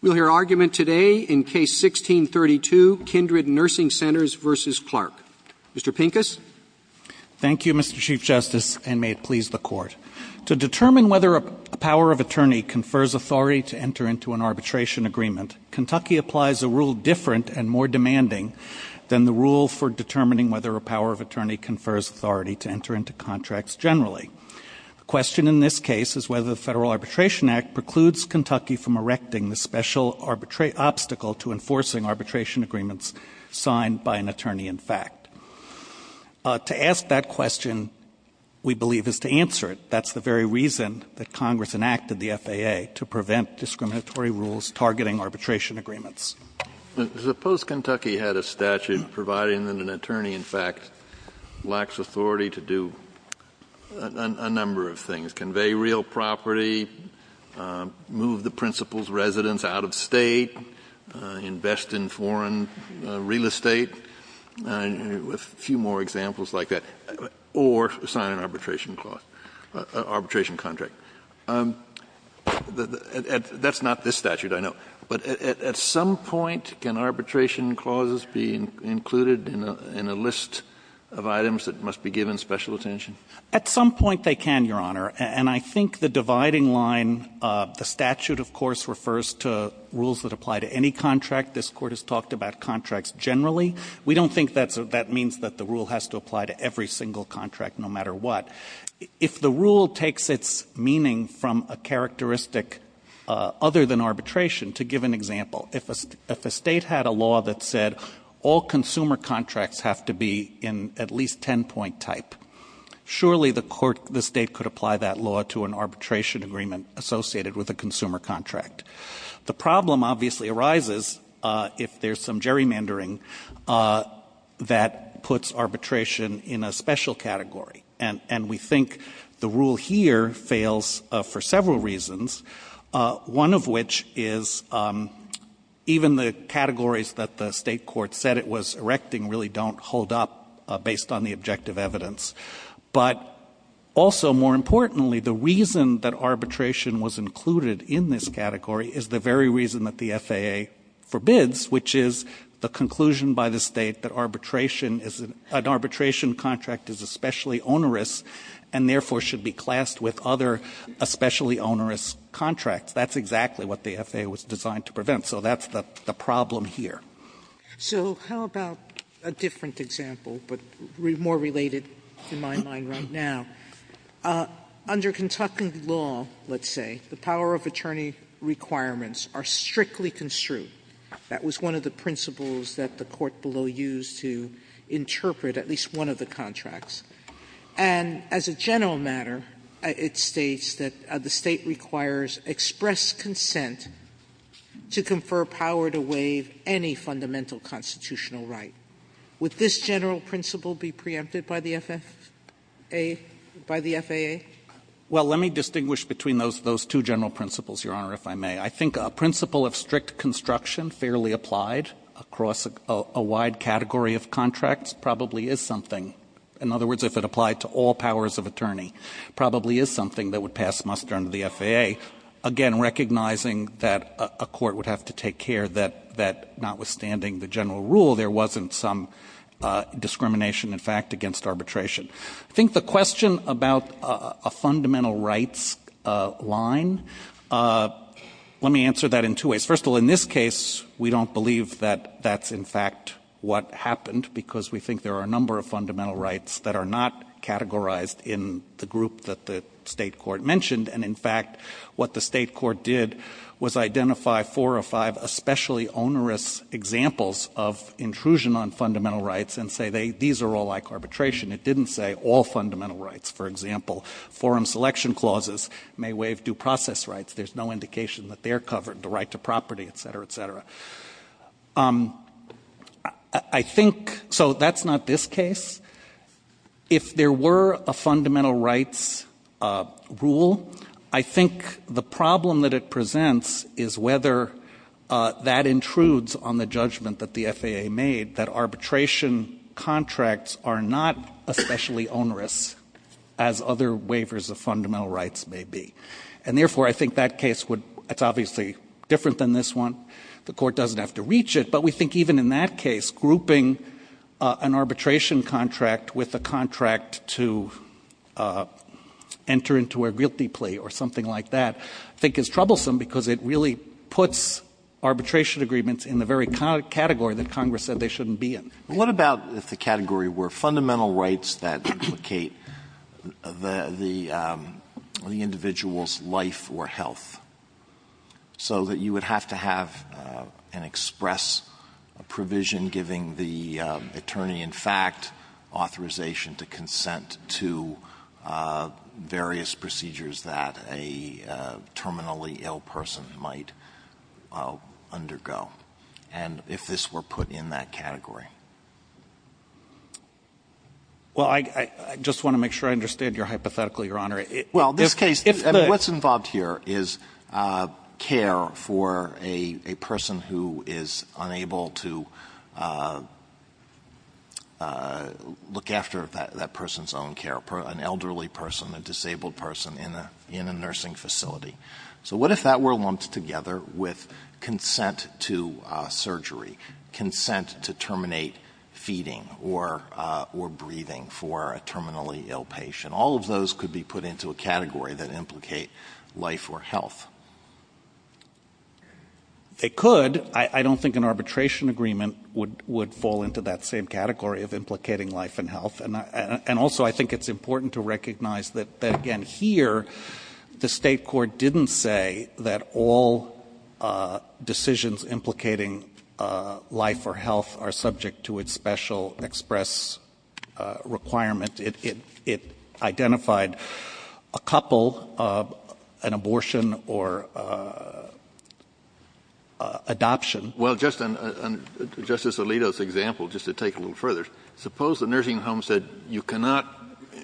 We'll hear argument today in Case 16-32, Kindred Nursing Centers v. Clark. Mr. Pincus? Thank you, Mr. Chief Justice, and may it please the Court. To determine whether a power of attorney confers authority to enter into an arbitration agreement, Kentucky applies a rule different and more demanding than the rule for determining whether a power of attorney confers authority to enter into contracts generally. The question in this case is whether the Federal Arbitration Act precludes Kentucky from erecting the special obstacle to enforcing arbitration agreements signed by an attorney-in-fact. To ask that question, we believe, is to answer it. That's the very reason that Congress enacted the FAA, to prevent discriminatory rules targeting arbitration agreements. Suppose Kentucky had a statute providing that an attorney-in-fact lacks authority to do a number of things, convey real property, move the principal's residence out of State, invest in foreign real estate, a few more examples like that, or sign an arbitration contract. That's not this statute, I know. But at some point, can arbitration clauses be included in a list of items that must be given special attention? At some point, they can, Your Honor. And I think the dividing line, the statute, of course, refers to rules that apply to any contract. This Court has talked about contracts generally. We don't think that means that the rule has to apply to every single contract, no matter what. But if the rule takes its meaning from a characteristic other than arbitration, to give an example, if a State had a law that said all consumer contracts have to be in at least 10-point type, surely the State could apply that law to an arbitration agreement associated with a consumer contract. The problem obviously arises if there's some gerrymandering that puts arbitration in a special category. And we think the rule here fails for several reasons, one of which is even the categories that the State court said it was erecting really don't hold up based on the objective evidence. But also, more importantly, the reason that arbitration was included in this category is the very reason that the FAA forbids, which is the conclusion by the State that arbitration is onerous and therefore should be classed with other especially onerous contracts. That's exactly what the FAA was designed to prevent. So that's the problem here. Sotomayor, So how about a different example, but more related in my mind right now? Under Kentucky law, let's say, the power of attorney requirements are strictly construed. That was one of the principles that the Court below used to interpret at least one of the contracts. And as a general matter, it states that the State requires express consent to confer power to waive any fundamental constitutional right. Would this general principle be preempted by the FAA? By the FAA? Well, let me distinguish between those two general principles, Your Honor, if I may. I think a principle of strict construction, fairly applied across a wide category of contracts, probably is something. In other words, if it applied to all powers of attorney, probably is something that would pass muster under the FAA. Again, recognizing that a court would have to take care that notwithstanding the general rule, there wasn't some discrimination, in fact, against arbitration. I think the question about a fundamental rights line, let me answer that in two ways. First of all, in this case, we don't believe that that's, in fact, what happened because we think there are a number of fundamental rights that are not categorized in the group that the State court mentioned. And, in fact, what the State court did was identify four or five especially onerous examples of intrusion on fundamental rights and say these are all like arbitration. It didn't say all fundamental rights. For example, forum selection clauses may waive due process rights. There's no indication that they're covered, the right to property, et cetera, et cetera. I think, so that's not this case. If there were a fundamental rights rule, I think the problem that it presents is whether that intrudes on the judgment that the FAA made, that arbitration contracts are not especially onerous as other waivers of fundamental rights may be. And, therefore, I think that case would, it's obviously different than this one. The court doesn't have to reach it, but we think even in that case grouping an arbitration contract with a contract to enter into a guilty plea or something like that I think is troublesome because it really puts arbitration agreements in the very category that Congress said they shouldn't be in. What about if the category were fundamental rights that implicate the individual's life or health, so that you would have to have an express provision giving the attorney in fact authorization to consent to various procedures that a terminally ill person might undergo, and if this were put in that category? Well, I just want to make sure I understand your hypothetical, Your Honor. Well, this case, what's involved here is care for a person who is unable to look after that person's own care, an elderly person, a disabled person in a nursing facility. So what if that were lumped together with consent to surgery, consent to terminate feeding or breathing for a terminally ill patient? And all of those could be put into a category that implicate life or health. It could. I don't think an arbitration agreement would fall into that same category of implicating life and health. And also I think it's important to recognize that, again, here the State court didn't say that all decisions implicating life or health are subject to its special express requirement. It identified a couple, an abortion or adoption. Well, Justice Alito's example, just to take it a little further, suppose the nursing home said you cannot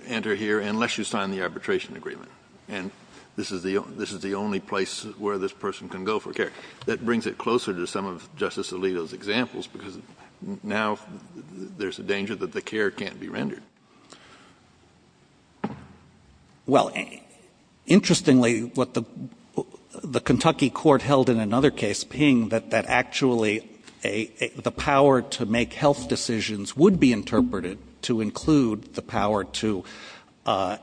enter here unless you sign the arbitration agreement, and this is the only place where this person can go for care. That brings it closer to some of Justice Alito's examples, because now there's a danger that the care can't be rendered. Well, interestingly, what the Kentucky court held in another case being that actually the power to make health decisions would be interpreted to include the power to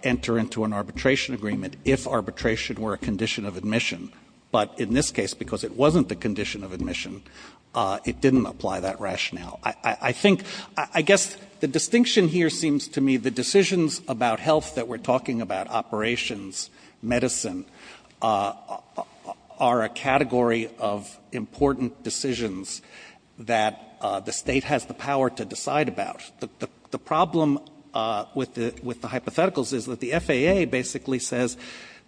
enter into an arbitration agreement if arbitration were a condition of admission. But in this case, because it wasn't the condition of admission, it didn't apply that rationale. I think, I guess the distinction here seems to me the decisions about health that we're talking about, operations, medicine, are a category of important decisions that the State has the power to decide about. The problem with the hypotheticals is that the FAA basically says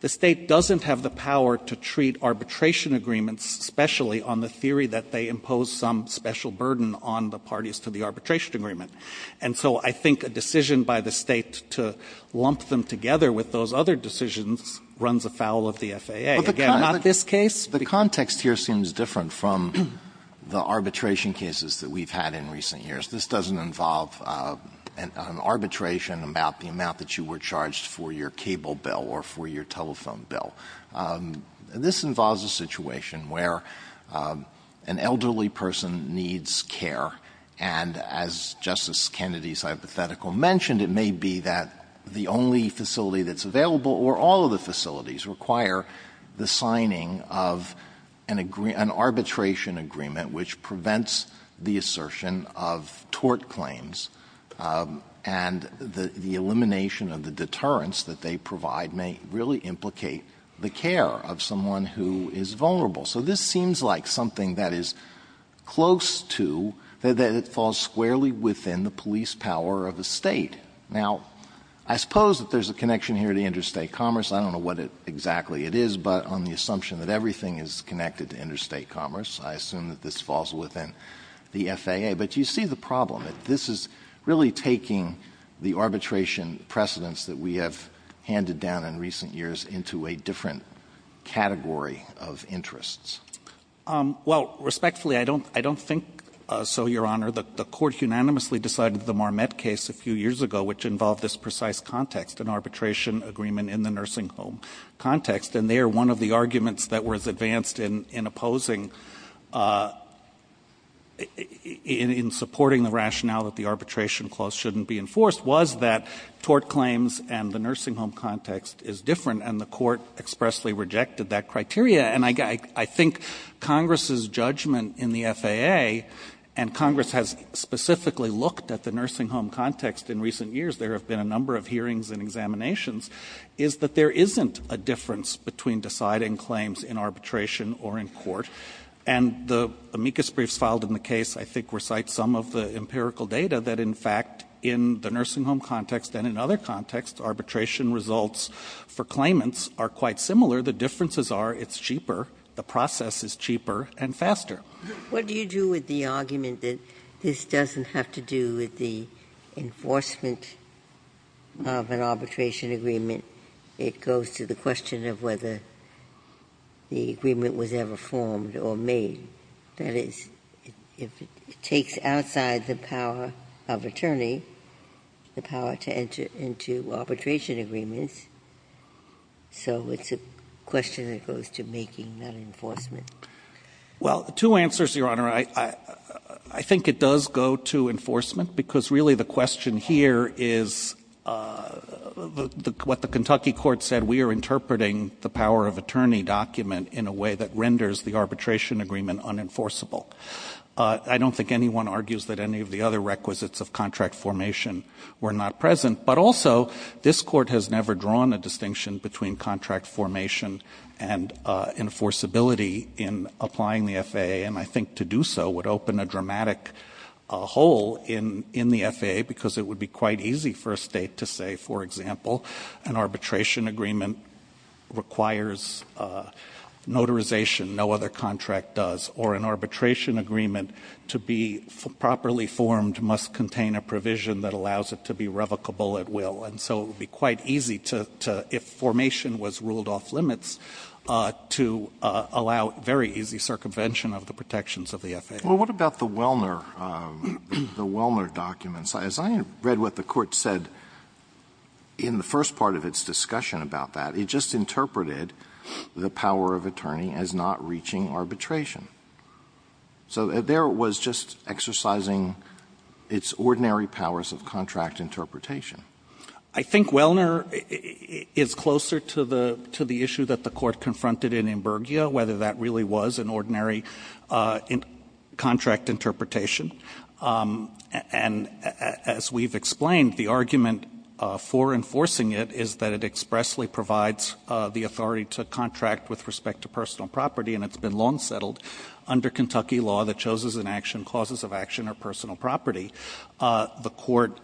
the State doesn't have the power to treat arbitration agreements specially on the theory that they belong to parties to the arbitration agreement. And so I think a decision by the State to lump them together with those other decisions runs afoul of the FAA. Again, not this case. But the context here seems different from the arbitration cases that we've had in recent years. This doesn't involve an arbitration about the amount that you were charged for your cable bill or for your telephone bill. This involves a situation where an elderly person needs care. And as Justice Kennedy's hypothetical mentioned, it may be that the only facility that's available or all of the facilities require the signing of an arbitration agreement which prevents the assertion of tort claims, and the elimination of the deterrence that they provide may really implicate the care of someone who is vulnerable. So this seems like something that is close to, that it falls squarely within the police power of the State. Now, I suppose that there's a connection here to interstate commerce. I don't know what exactly it is, but on the assumption that everything is connected to interstate commerce, I assume that this falls within the FAA. But you see the problem. This is really taking the arbitration precedents that we have handed down in recent years into a different category of interests. Well, respectfully, I don't think so, Your Honor. The Court unanimously decided the Marmette case a few years ago, which involved this precise context, an arbitration agreement in the nursing home context. And there, one of the arguments that was advanced in opposing, in supporting the rationale that the arbitration clause shouldn't be enforced was that tort claims and the nursing home context is different. And the Court expressly rejected that criteria. And I think Congress's judgment in the FAA, and Congress has specifically looked at the nursing home context in recent years, there have been a number of hearings and examinations, is that there isn't a difference between deciding claims in arbitration or in court. And the amicus briefs filed in the case, I think, recite some of the empirical data that, in fact, in the nursing home context and in other contexts, arbitration results for claimants are quite similar. The differences are it's cheaper, the process is cheaper and faster. Ginsburg What do you do with the argument that this doesn't have to do with the enforcement of an arbitration agreement? It goes to the question of whether the agreement was ever formed or made. That is, if it takes outside the power of attorney, the power to enter into arbitration agreements, so it's a question that goes to making that enforcement. Well, two answers, Your Honor. I think it does go to enforcement, because really the question here is what the Kentucky Court said, we are interpreting the power of attorney document in a way that renders the arbitration agreement unenforceable. I don't think anyone argues that any of the other requisites of contract formation were not present. But also, this Court has never drawn a distinction between contract formation and enforceability in applying the FAA. And I think to do so would open a dramatic hole in the FAA, because it would be quite easy for a state to say, for example, an arbitration agreement requires notarization, no other contract does, or an arbitration agreement to be properly formed must contain a provision that allows it to be revocable at will. And so it would be quite easy to, if formation was ruled off limits, to allow very easy circumvention of the protections of the FAA. Well, what about the Wellner documents? As I read what the Court said in the first part of its discussion about that, it just interpreted the power of attorney as not reaching arbitration. So there it was just exercising its ordinary powers of contract interpretation. I think Wellner is closer to the issue that the Court confronted in Imburgia, whether that really was an ordinary contract interpretation. And as we've explained, the argument for enforcing it is that it expressly provides the authority to contract with respect to personal property, and it's been long settled under Kentucky law that choses an action, causes of action, or personal property. The Court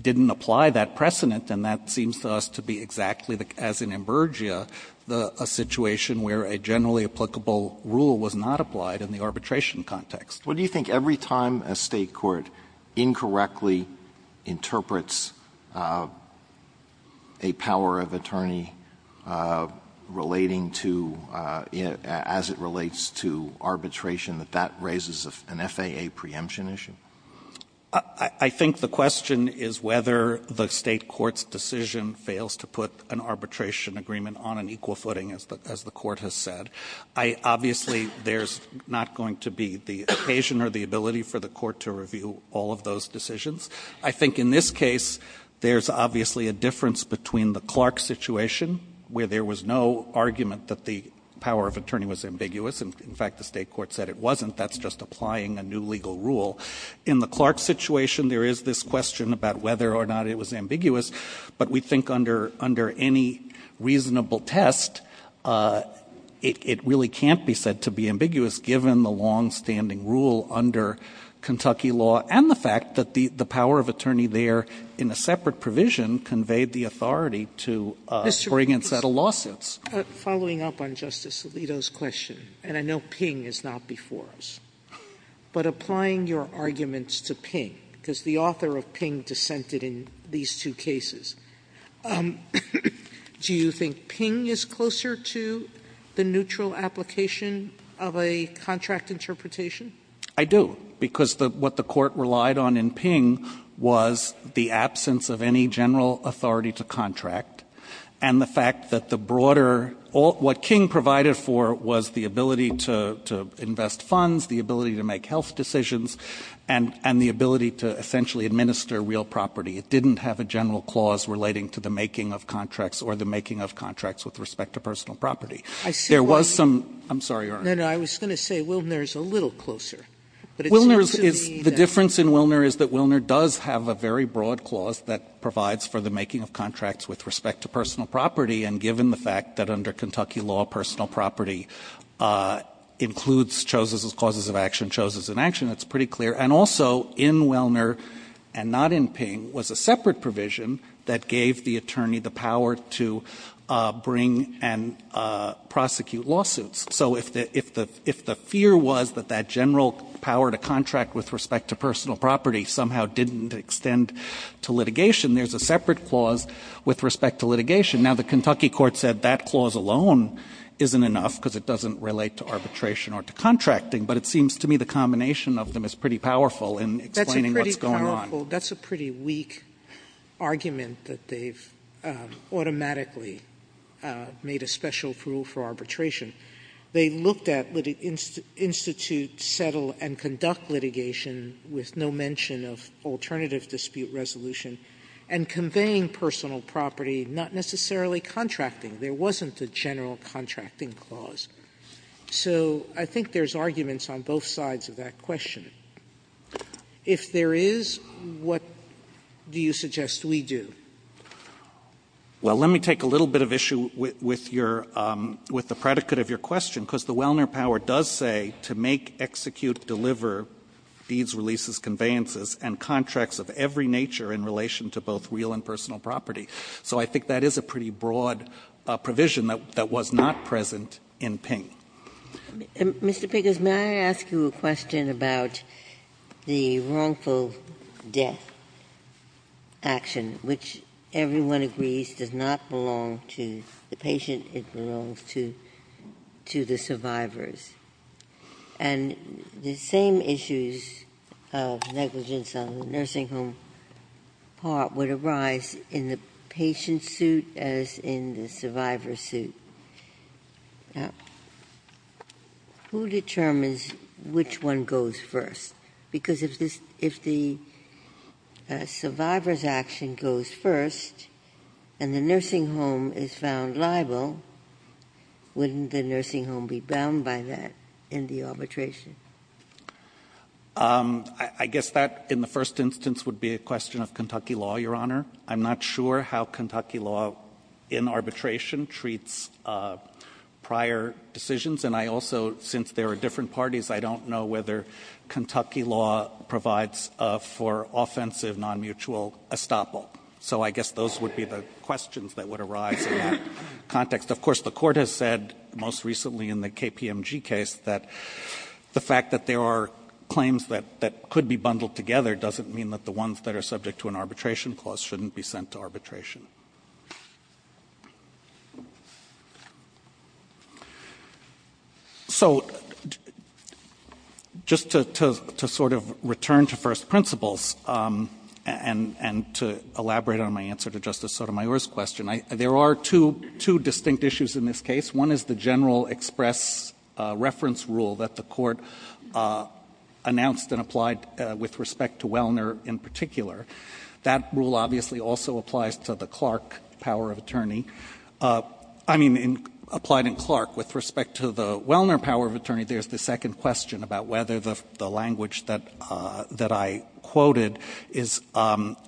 didn't apply that precedent, and that seems to us to be exactly, as in Imburgia, a situation where a generally applicable rule was not applied in the arbitration context. Alito What do you think? Every time a State court incorrectly interprets a power of attorney relating to, as it relates to arbitration, that that raises an FAA preemption issue? I think the question is whether the State court's decision fails to put an arbitration agreement on an equal footing, as the Court has said. Obviously, there's not going to be the occasion or the ability for the Court to review all of those decisions. I think in this case, there's obviously a difference between the Clark situation, where there was no argument that the power of attorney was ambiguous. In fact, the State court said it wasn't. That's just applying a new legal rule. In the Clark situation, there is this question about whether or not it was ambiguous, but we think under any reasonable test, it really can't be said to be ambiguous given the longstanding rule under Kentucky law and the fact that the power of attorney there in a separate provision conveyed the authority to bring and settle lawsuits. Sotomayor Following up on Justice Alito's question, and I know Ping is not before us, but applying your arguments to Ping, because the author of Ping dissented in these two cases, do you think Ping is closer to the neutral application of a contract interpretation? Pincus I do, because what the Court relied on in Ping was the absence of any general authority to contract, and the fact that the broader – what King provided for was the ability to invest funds, the ability to make health decisions, and the ability to essentially administer real property. It didn't have a general clause relating to the making of contracts or the making of contracts with respect to personal property. There was some – I'm sorry, Your Honor. Sotomayor No, no. I was going to say Wilner is a little closer, but it seems to me that – Pincus The difference in Wilner is that Wilner does have a very broad clause that provides for the making of contracts with respect to personal property, and given the fact that under Kentucky law personal property includes choses as causes of action, choses in action, it's pretty clear. And also in Wilner and not in Ping was a separate provision that gave the attorney the power to bring and prosecute lawsuits. So if the fear was that that general power to contract with respect to personal property somehow didn't extend to litigation, there's a separate clause with respect to litigation. Now, the Kentucky court said that clause alone isn't enough because it doesn't relate to arbitration or to contracting, but it seems to me the combination of them is pretty powerful in explaining what's going on. Sotomayor That's a pretty powerful – that's a pretty weak argument that they've made a special rule for arbitration. They looked at the institute settle and conduct litigation with no mention of alternative dispute resolution and conveying personal property, not necessarily contracting. There wasn't a general contracting clause. So I think there's arguments on both sides of that question. If there is, what do you suggest we do? Well, let me take a little bit of issue with your – with the predicate of your question, because the Wilner power does say to make, execute, deliver deeds, releases, conveyances, and contracts of every nature in relation to both real and personal property, so I think that is a pretty broad provision that was not present in Ping. Ginsburg May I ask you a question about the wrongful death action, which everyone agrees does not belong to the patient, it belongs to the survivors. And the same issues of negligence on the nursing home part would arise in the patient suit as in the survivor suit. Who determines which one goes first? Because if the survivor's action goes first and the nursing home is found liable, wouldn't the nursing home be bound by that in the arbitration? I guess that in the first instance would be a question of Kentucky law, Your Honor. I'm not sure how Kentucky law in arbitration treats prior decisions, and I also, since there are different parties, I don't know whether Kentucky law provides for offensive non-mutual estoppel. So I guess those would be the questions that would arise in that context. Of course, the Court has said most recently in the KPMG case that the fact that there are claims that could be bundled together doesn't mean that the ones that are subject to an arbitration clause shouldn't be sent to arbitration. So just to sort of return to first principles and to elaborate on my answer to Justice Sotomayor's question, there are two distinct issues in this case. One is the general express reference rule that the Court announced and applied with respect to Wellner in particular. That rule obviously also applies to the Clark power of attorney. I mean, applied in Clark with respect to the Wellner power of attorney, there's the second question about whether the language that I quoted is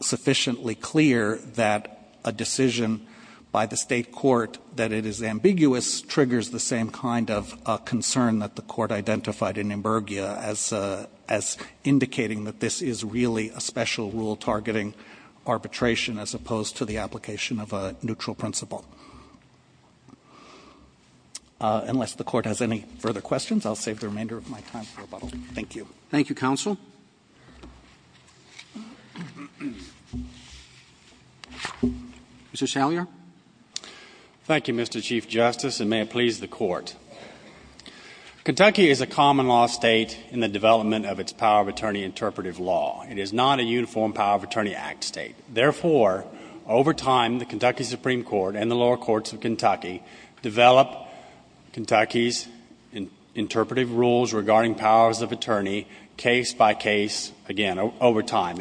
sufficiently clear that a decision by the State court that it is ambiguous triggers the same kind of concern that the Court identified in Imburgia as indicating that this is really a special rule targeting arbitration as opposed to the application of a neutral principle. Unless the Court has any further questions, I'll save the remainder of my time for rebuttal. Thank you. Roberts. Thank you, counsel. Mr. Salyer. Thank you, Mr. Chief Justice, and may it please the Court. Kentucky is a common law state in the development of its power of attorney interpretive law. It is not a uniform power of attorney act state. Therefore, over time, the Kentucky Supreme Court and the lower courts of Kentucky develop Kentucky's interpretive rules regarding powers of attorney case by case, again, over time.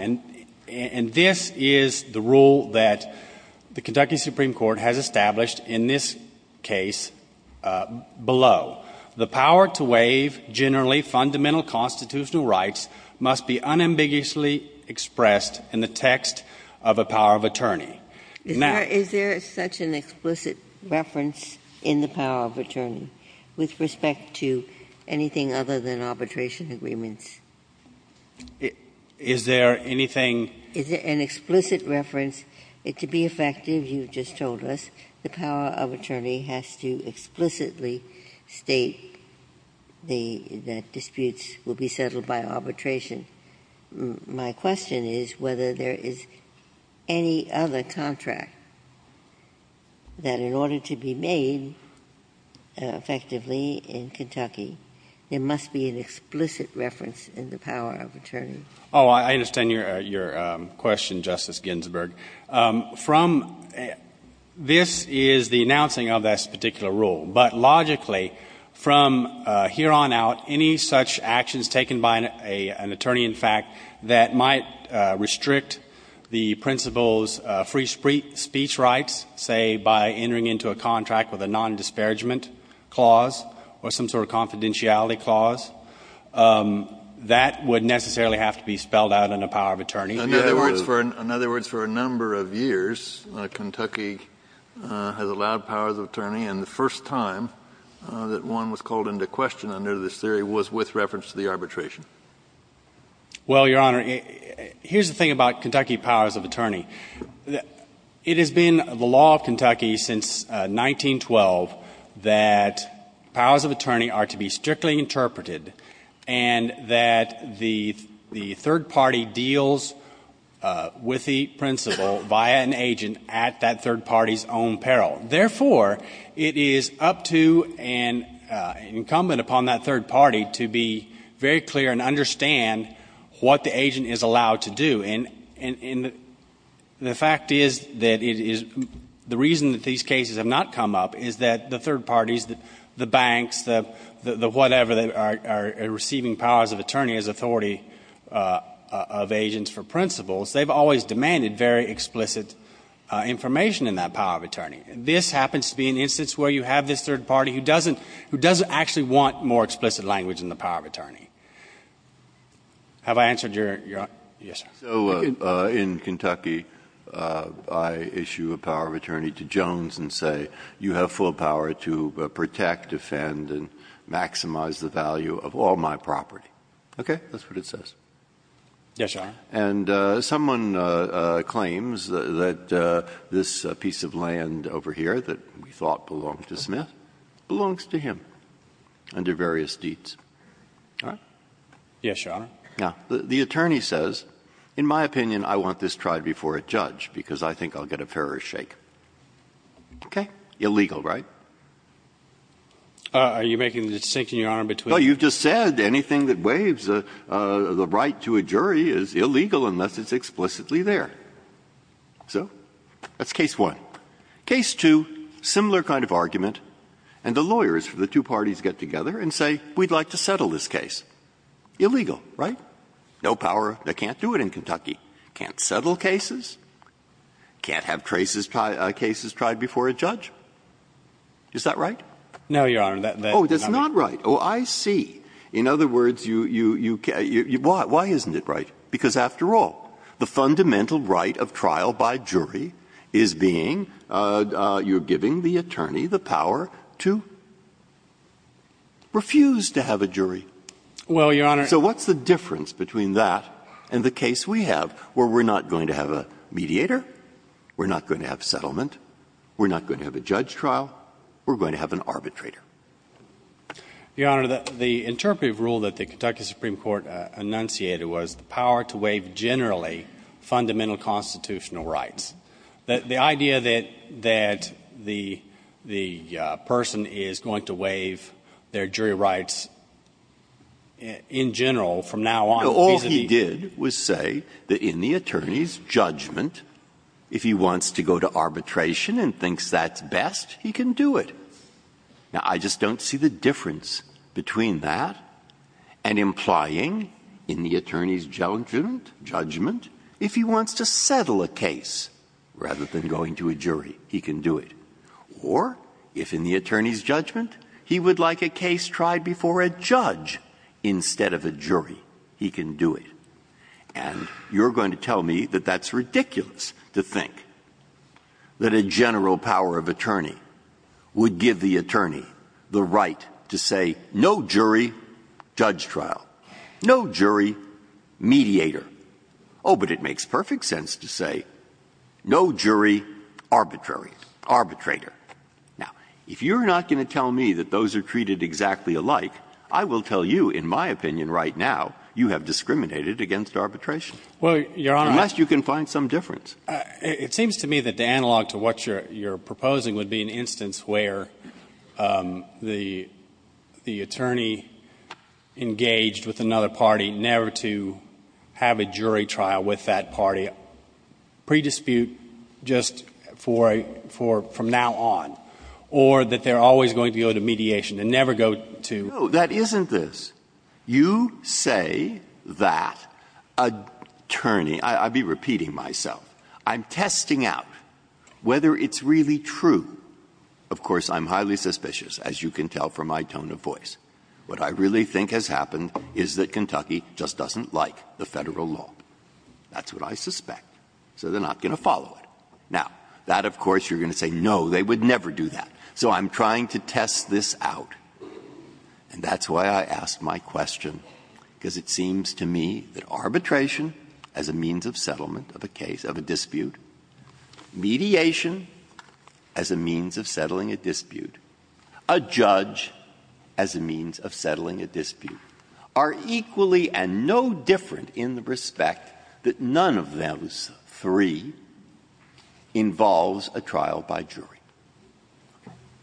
And this is the rule that the Kentucky Supreme Court has established in this case below. The power to waive generally fundamental constitutional rights must be unambiguously expressed in the text of a power of attorney. Is there such an explicit reference in the power of attorney with respect to anything other than arbitration agreements? Is there anything? Is there an explicit reference? To be effective, you just told us, the power of attorney has to explicitly state the disputes will be settled by arbitration. My question is whether there is any other contract that in order to be made effectively in Kentucky, there must be an explicit reference in the power of attorney. Oh, I understand your question, Justice Ginsburg. From this is the announcing of this particular rule. But logically, from here on out, any such actions taken by an attorney, in fact, that might restrict the principal's free speech rights, say, by entering into a contract with a nondisparagement clause or some sort of confidentiality clause, that would necessarily have to be spelled out in a power of attorney. In other words, for a number of years, Kentucky has allowed powers of attorney. And the first time that one was called into question under this theory was with reference to the arbitration. Well, Your Honor, here's the thing about Kentucky powers of attorney. It has been the law of Kentucky since 1912 that powers of attorney are to be strictly interpreted and that the third party deals with the principal via an agent at that third party's own peril. Therefore, it is up to and incumbent upon that third party to be very clear and understand what the agent is allowed to do. And the fact is that it is the reason that these cases have not come up is that the third parties, the banks, the whatever, are receiving powers of attorney as authority of agents for principals. They have always demanded very explicit information in that power of attorney. This happens to be an instance where you have this third party who doesn't actually want more explicit language in the power of attorney. Have I answered your question? Breyer. So in Kentucky, I issue a power of attorney to Jones and say you have full power to protect, defend, and maximize the value of all my property. Okay? That's what it says. Yes, Your Honor. And someone claims that this piece of land over here that we thought belonged to Smith belongs to him under various deeds. All right? Yes, Your Honor. Now, the attorney says, in my opinion, I want this tried before a judge because I think I'll get a fairer shake. Okay? Illegal, right? Are you making the distinction, Your Honor, between the two? No, you just said anything that waives the right to a jury is illegal unless it's explicitly there. So that's case one. Case two, similar kind of argument. And the lawyers for the two parties get together and say we'd like to settle this case. Illegal, right? No power. They can't do it in Kentucky. Can't settle cases. Can't have cases tried before a judge. Is that right? No, Your Honor. Oh, that's not right. Oh, I see. In other words, you can't. Why isn't it right? Because after all, the fundamental right of trial by jury is being you're giving the attorney the power to refuse to have a jury. Well, Your Honor. So what's the difference between that and the case we have where we're not going to have a mediator, we're not going to have settlement, we're not going to have a judge trial, we're going to have an arbitrator? Your Honor, the interpretive rule that the Kentucky Supreme Court enunciated was the power to waive generally fundamental constitutional rights. The idea that the person is going to waive their jury rights in general from now on vis-à-vis. No, all he did was say that in the attorney's judgment, if he wants to go to arbitration and thinks that's best, he can do it. Now, I just don't see the difference between that and implying in the attorney's judgment if he wants to settle a case rather than going to a jury, he can do it. Or if in the attorney's judgment, he would like a case tried before a judge instead of a jury, he can do it. And you're going to tell me that that's ridiculous to think that a general power of attorney would give the attorney the right to say no jury, judge trial. No jury, mediator. Oh, but it makes perfect sense to say no jury, arbitrator. Now, if you're not going to tell me that those are treated exactly alike, I will tell you, in my opinion right now, you have discriminated against arbitration. Unless you can find some difference. It seems to me that the analog to what you're proposing would be an instance where the attorney engaged with another party never to have a jury trial with that party, pre-dispute just for a – from now on, or that they're always going to go to mediation and never go to the jury. Breyer. No, that isn't this. You say that attorney – I'll be repeating myself – I'm testing out whether it's really true. Of course, I'm highly suspicious, as you can tell from my tone of voice. What I really think has happened is that Kentucky just doesn't like the Federal law. That's what I suspect. So they're not going to follow it. Now, that, of course, you're going to say, no, they would never do that. So I'm trying to test this out. And that's why I asked my question, because it seems to me that arbitration as a means of settlement of a case, of a dispute, mediation as a means of settling a dispute, a judge as a means of settling a dispute, are equally and no different in the respect that none of those three involves a trial by jury.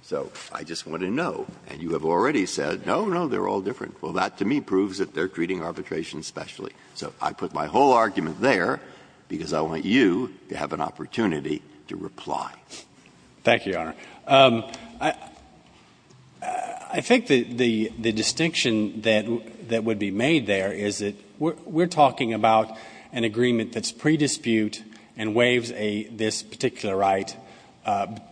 So I just want to know, and you have already said, no, no, they're all different. Well, that to me proves that they're treating arbitration specially. So I put my whole argument there because I want you to have an opportunity to reply. Thank you, Your Honor. I think the distinction that would be made there is that we're talking about an agreement that's pre-dispute and waives this particular right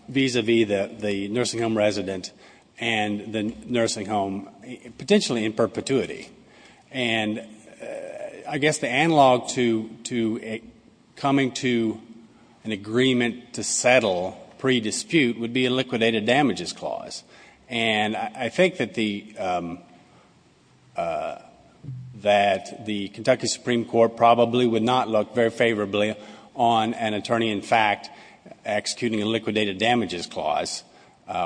vis-a-vis the nursing home resident and the nursing home, potentially in perpetuity. And I guess the analog to coming to an agreement to settle pre-dispute would be a liquidated damages clause. And I think that the Kentucky Supreme Court probably would not look very favorably on an attorney, in fact, executing a liquidated damages clause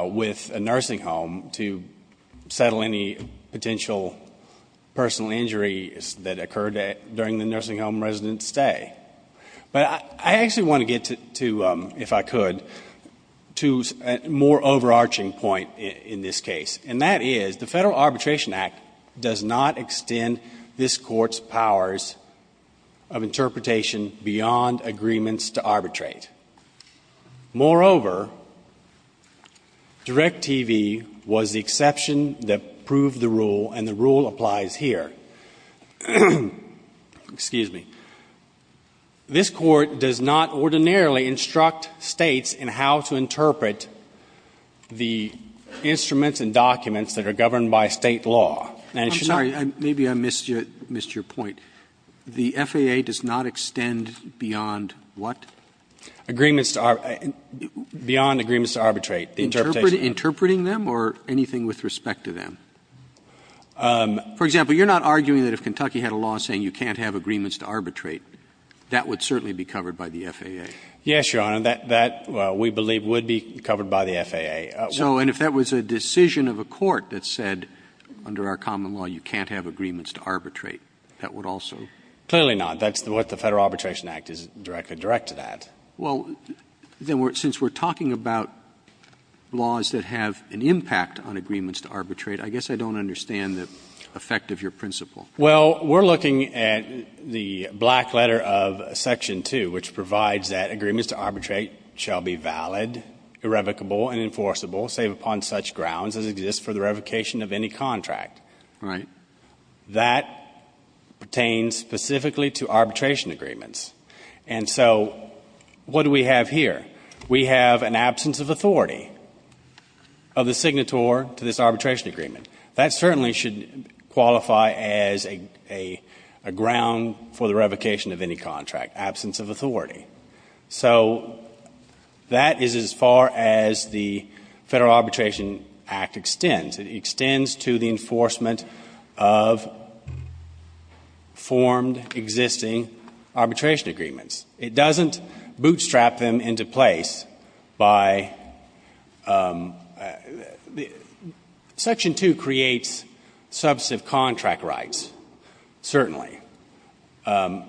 with a nursing home to settle any potential personal injuries that occurred during the nursing home resident's stay. But I actually want to get to, if I could, to a more overarching point in this case, and that is the Federal Arbitration Act does not extend this Court's powers of interpretation beyond agreements to arbitrate. Moreover, DIRECTV was the exception that proved the rule, and the rule applies here. Excuse me. This Court does not ordinarily instruct States in how to interpret the instruments and documents that are governed by State law. And it should not be. Roberts. I'm sorry. Maybe I missed your point. The FAA does not extend beyond what? Agreements to arbitrate. Beyond agreements to arbitrate. Interpreting them or anything with respect to them? For example, you're not arguing that if Kentucky had a law saying you can't have agreements to arbitrate, that would certainly be covered by the FAA? Yes, Your Honor. That, we believe, would be covered by the FAA. So, and if that was a decision of a court that said under our common law you can't have agreements to arbitrate, that would also? Clearly not. That's what the Federal Arbitration Act is directly directed at. Well, then since we're talking about laws that have an impact on agreements to arbitrate, I guess I don't understand the effect of your principle. Well, we're looking at the black letter of Section 2, which provides that agreements to arbitrate shall be valid, irrevocable, and enforceable, save upon such grounds as exist for the revocation of any contract. Right. That pertains specifically to arbitration agreements. And so what do we have here? We have an absence of authority of the signator to this arbitration agreement. That certainly should qualify as a ground for the revocation of any contract, absence of authority. So that is as far as the Federal Arbitration Act extends. It extends to the enforcement of formed existing arbitration agreements. It doesn't bootstrap them into place by the – Section 2 creates substantive contract rights, certainly, the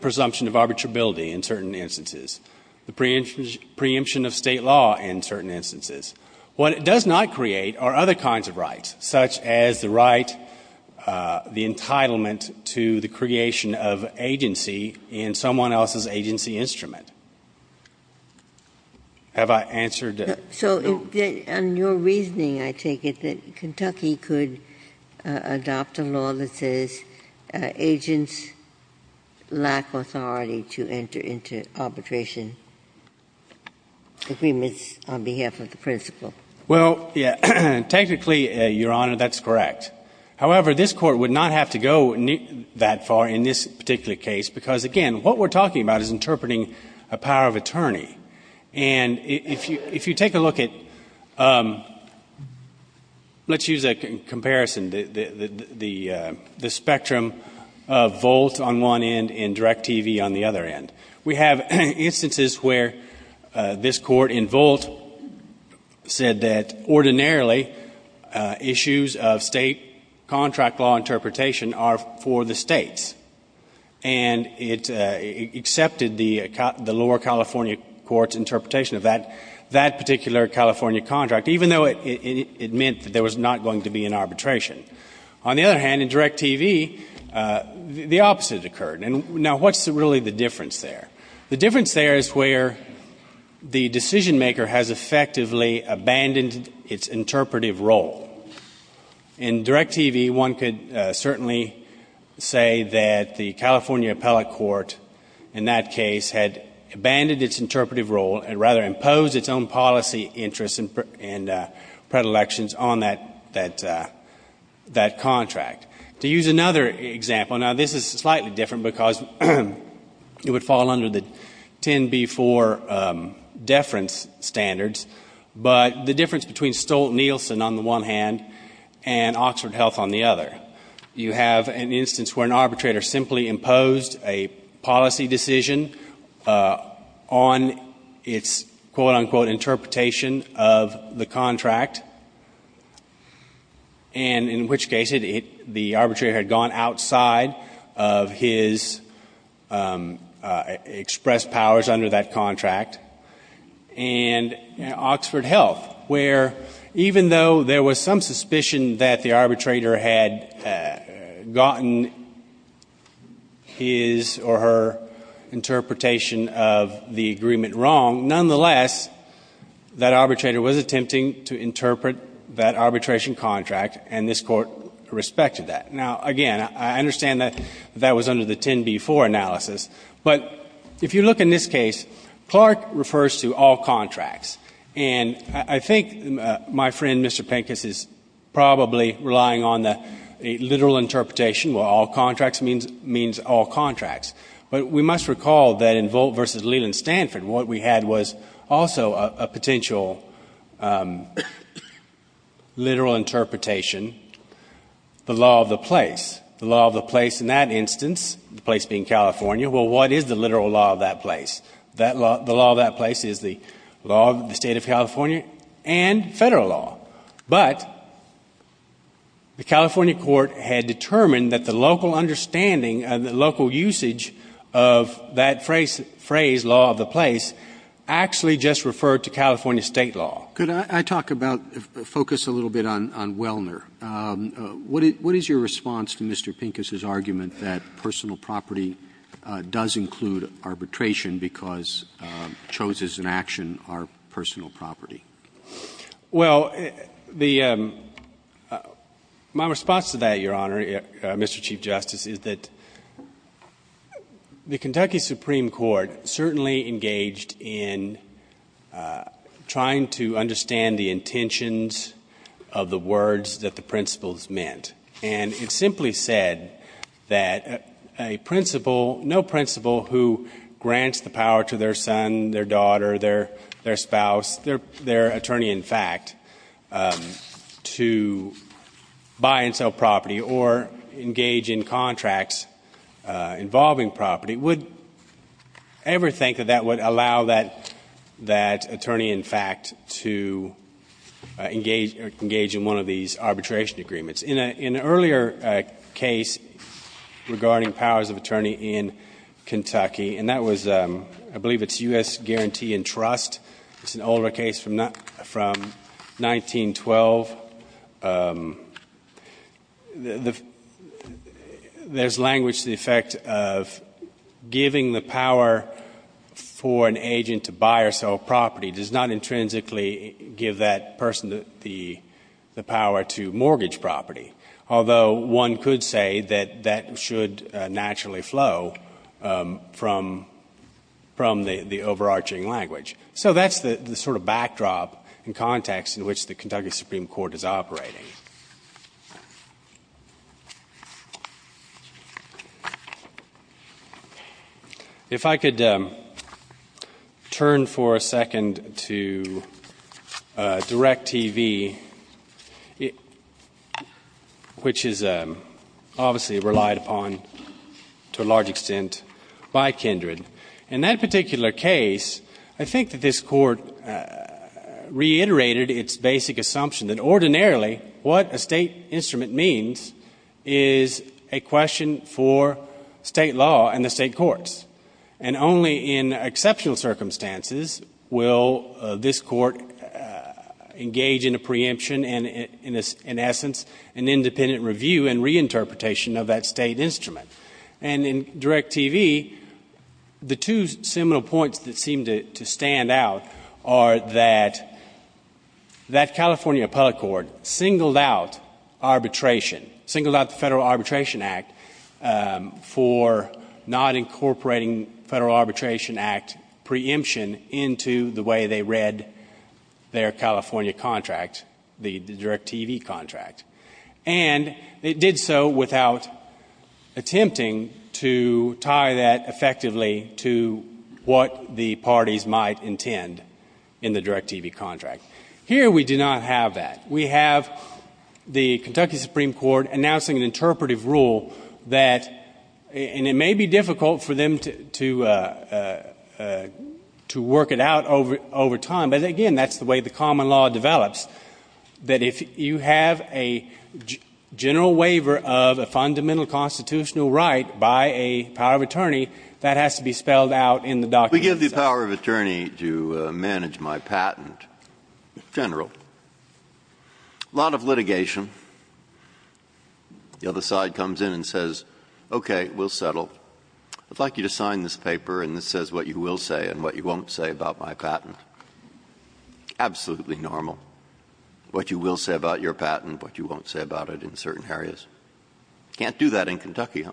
presumption of arbitrability in certain instances, the preemption of State law in certain instances. What it does not create are other kinds of rights, such as the right, the entitlement to the creation of agency in someone else's agency instrument. Have I answered? So in your reasoning, I take it that Kentucky could adopt a law that says agents lack authority to enter into arbitration agreements on behalf of the principal. Well, yes. Technically, Your Honor, that's correct. However, this Court would not have to go that far in this particular case because, again, what we're talking about is interpreting a power of attorney. And if you take a look at – let's use a comparison. The spectrum of Volt on one end and DirecTV on the other end. We have instances where this Court in Volt said that ordinarily issues of State contract law interpretation are for the States. And it accepted the lower California court's interpretation of that particular California contract, even though it meant that there was not going to be an arbitration. On the other hand, in DirecTV, the opposite occurred. Now, what's really the difference there? The difference there is where the decisionmaker has effectively abandoned its interpretive role. In DirecTV, one could certainly say that the California appellate court in that case had abandoned its interpretive role and rather imposed its own policy interests and predilections on that contract. To use another example, now, this is slightly different because it would fall under the 10b-4 deference standards, but the difference between Stolt-Nielsen on the one hand and Oxford Health on the other. You have an instance where an arbitrator simply imposed a policy decision on its quote, unquote, interpretation of the contract, and in which case the arbitrator had gone outside of his expressed powers under that contract. And Oxford Health, where even though there was some suspicion that the arbitrator had gotten his or her interpretation of the agreement wrong, nonetheless, that arbitrator was attempting to interpret that arbitration contract, and this Court respected that. Now, again, I understand that that was under the 10b-4 analysis. But if you look in this case, Clark refers to all contracts. And I think my friend, Mr. Pincus, is probably relying on the literal interpretation where all contracts means all contracts. But we must recall that in Volt v. Leland Stanford, what we had was also a potential literal interpretation, the law of the place. The law of the place in that instance, the place being California, well, what is the literal law of that place? The law of that place is the law of the State of California and Federal law. But the California court had determined that the local understanding and the local usage of that phrase, law of the place, actually just referred to California State law. Roberts. Could I talk about, focus a little bit on Wellner? What is your response to Mr. Pincus' argument that personal property does include arbitration because chose as an action our personal property? Well, the my response to that, Your Honor, Mr. Chief Justice, is that the Kentucky Supreme Court certainly engaged in trying to understand the intentions of the words that the principles meant. And it simply said that a principle, no principle who grants the power to their son, their daughter, their spouse, their attorney-in-fact, to buy and sell property or engage in contracts involving property would ever think that that would allow that attorney-in-fact to engage in one of these arbitration agreements. In an earlier case regarding powers of attorney in Kentucky, and that was, I believe it's U.S. Guarantee and Trust, it's an older case from 1912, there's language to the effect of giving the power for an agent to buy or sell property does not intrinsically give that person the power to mortgage property, although one could say that that should naturally flow from the overarching language. So that's the sort of backdrop and context in which the Kentucky Supreme Court is operating. If I could turn for a second to DIRECTV, which is obviously relied upon to a large extent by Kindred. In that particular case, I think that this Court reiterated its basic assumption means is a question for State law and the State courts. And only in exceptional circumstances will this Court engage in a preemption and, in essence, an independent review and reinterpretation of that State instrument. And in DIRECTV, the two seminal points that seem to stand out are that that California Public Court singled out arbitration, singled out the Federal Arbitration Act for not incorporating Federal Arbitration Act preemption into the way they read their California contract, the DIRECTV contract. And it did so without attempting to tie that effectively to what the parties might intend in the DIRECTV contract. Here we do not have that. We have the Kentucky Supreme Court announcing an interpretive rule that, and it may be difficult for them to work it out over time, but, again, that's the way the common law develops, that if you have a general waiver of a fundamental constitutional right by a power of attorney, that has to be spelled out in the document. Breyer. We give the power of attorney to manage my patent. General. A lot of litigation. The other side comes in and says, okay, we'll settle. I'd like you to sign this paper, and it says what you will say and what you won't say about my patent. Absolutely normal. What you will say about your patent, what you won't say about it in certain areas. You can't do that in Kentucky, huh?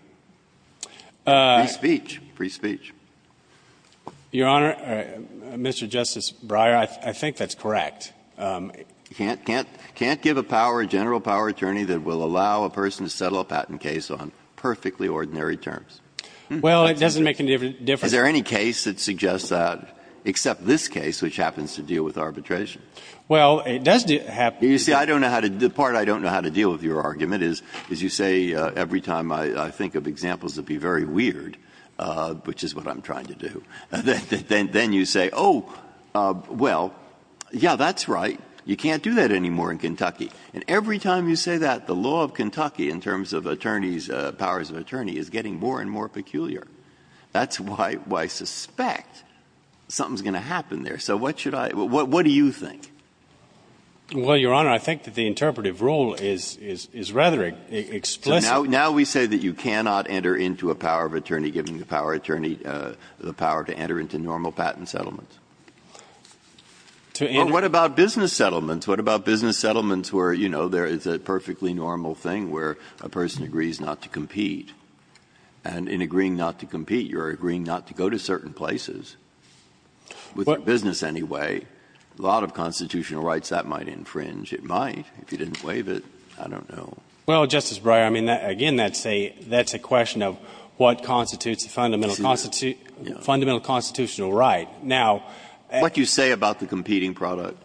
Free speech. Free speech. Your Honor, Mr. Justice Breyer, I think that's correct. You can't give a power, a general power attorney that will allow a person to settle a patent case on perfectly ordinary terms. Well, it doesn't make any difference. Is there any case that suggests that, except this case, which happens to deal with arbitration? Well, it does happen. You see, I don't know how to do it. The part I don't know how to deal with your argument is you say every time I think of examples that would be very weird, which is what I'm trying to do, then you say, oh, well, yeah, that's right. You can't do that anymore in Kentucky. And every time you say that, the law of Kentucky in terms of attorneys, powers of attorney, is getting more and more peculiar. That's why I suspect something is going to happen there. So what should I do? What do you think? Well, Your Honor, I think that the interpretive rule is rather explicit. Now we say that you cannot enter into a power of attorney given the power to enter into normal patent settlements. But what about business settlements? What about business settlements where, you know, there is a perfectly normal thing where a person agrees not to compete? And in agreeing not to compete, you are agreeing not to go to certain places, with your business anyway. A lot of constitutional rights that might infringe. It might, if you didn't waive it. I don't know. Well, Justice Breyer, I mean, again, that's a question of what constitutes the fundamental constitutional right. Now — What you say about the competing product.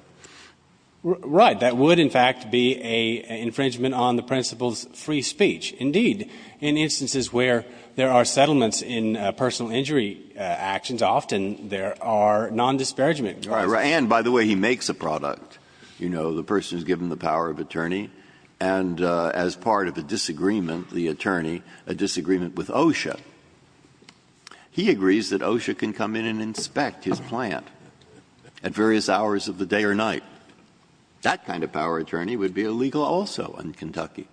Right. That would, in fact, be an infringement on the principle of free speech. Indeed, in instances where there are settlements in personal injury actions, often there are nondisparagement. And, by the way, he makes a product. You know, the person is given the power of attorney. And as part of a disagreement, the attorney, a disagreement with OSHA, he agrees that OSHA can come in and inspect his plant at various hours of the day or night. That kind of power of attorney would be illegal also in Kentucky.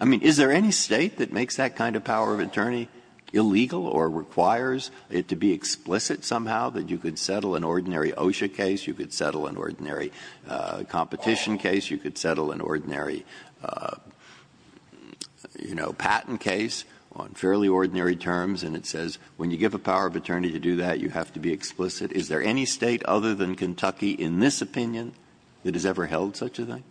I mean, is there any State that makes that kind of power of attorney illegal or requires it to be explicit somehow that you could settle an ordinary OSHA case, you could settle an ordinary competition case, you could settle an ordinary, you know, patent case on fairly ordinary terms, and it says when you give a power of attorney to do that, you have to be explicit? Is there any State other than Kentucky in this opinion that has ever held such a thing?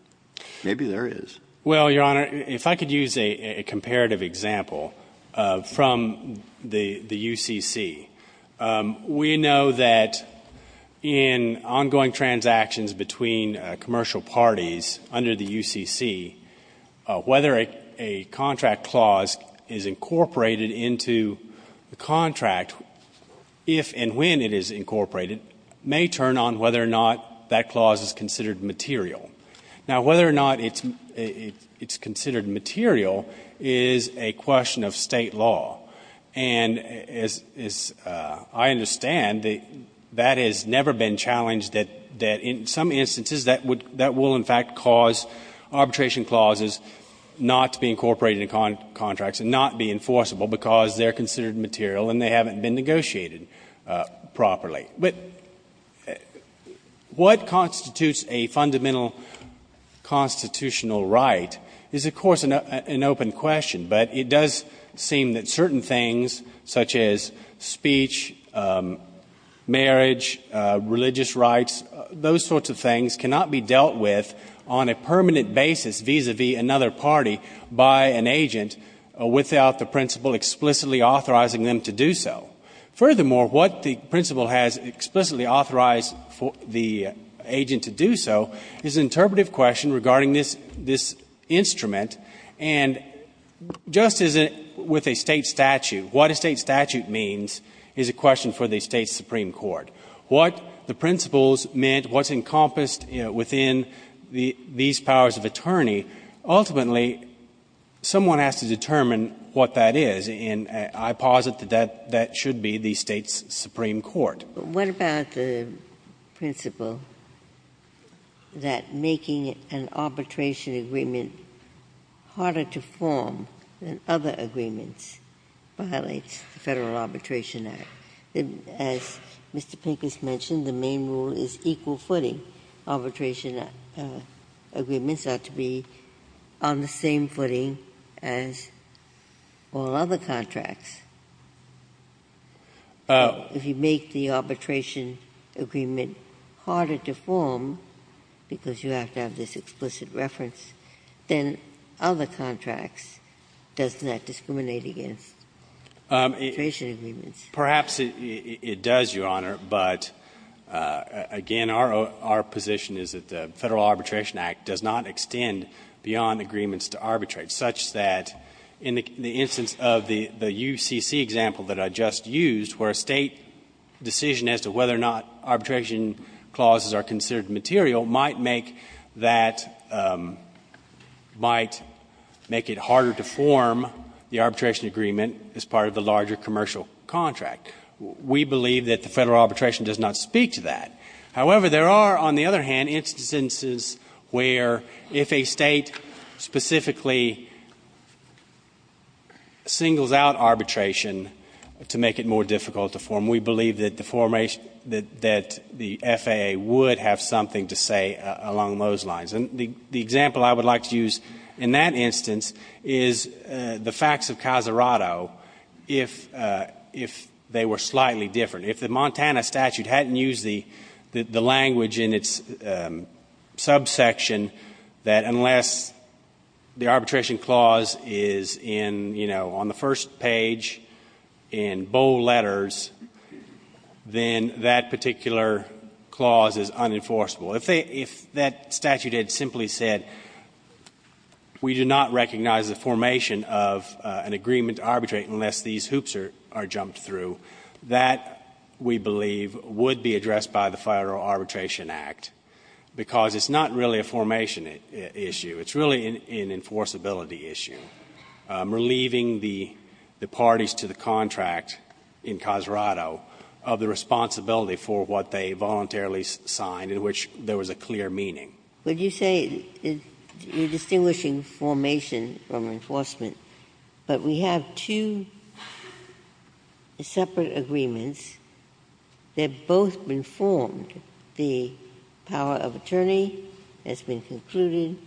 Maybe there is. Well, Your Honor, if I could use a comparative example from the UCC. We know that in ongoing transactions between commercial parties under the UCC, whether a contract clause is incorporated into the contract, if and when it is incorporated, may turn on whether or not that clause is considered material. Now, whether or not it's considered material is a question of State law. And as I understand, that has never been challenged, that in some instances that will in fact cause arbitration clauses not to be incorporated into contracts and not be enforceable because they're considered material and they haven't been negotiated properly. But what constitutes a fundamental constitutional right is, of course, an open question. But it does seem that certain things such as speech, marriage, religious rights, those sorts of things cannot be dealt with on a permanent basis vis-a-vis another party by an agent without the principal explicitly authorizing them to do so. Furthermore, what the principal has explicitly authorized the agent to do so is an Just as with a State statute, what a State statute means is a question for the State's supreme court. What the principals meant, what's encompassed within these powers of attorney, ultimately someone has to determine what that is. And I posit that that should be the State's supreme court. What about the principle that making an arbitration agreement harder to form than other agreements violates the Federal Arbitration Act? As Mr. Pincus mentioned, the main rule is equal footing. Arbitration agreements ought to be on the same footing as all other contracts. If you make the arbitration agreement harder to form, because you have to have this explicit reference, then other contracts does not discriminate against arbitration agreements. Perhaps it does, Your Honor, but again, our position is that the Federal Arbitration Act does not extend beyond agreements to arbitrate, such that in the instance of the UCC example that I just used, where a State decision as to whether or not arbitration clauses are considered material might make that, might make it harder to form the arbitration agreement as part of the larger commercial contract. We believe that the Federal arbitration does not speak to that. However, there are, on the other hand, instances where if a State specifically singles out arbitration to make it more difficult to form, we believe that the FAA would have something to say along those lines. And the example I would like to use in that instance is the facts of Casarato, if they were slightly different. If the Montana statute hadn't used the language in its subsection that unless the arbitration clause is in, you know, on the first page in bold letters, then that particular clause is unenforceable. If that statute had simply said we do not recognize the formation of an agreement to arbitrate unless these hoops are jumped through, that, we believe, would be addressed by the Federal Arbitration Act, because it's not really a formation issue. It's really an enforceability issue. Relieving the parties to the contract in Casarato of the responsibility for what they voluntarily signed in which there was a clear meaning. Ginsburg. Would you say you're distinguishing formation from enforcement, but we have two separate agreements that have both been formed. The power of attorney has been concluded.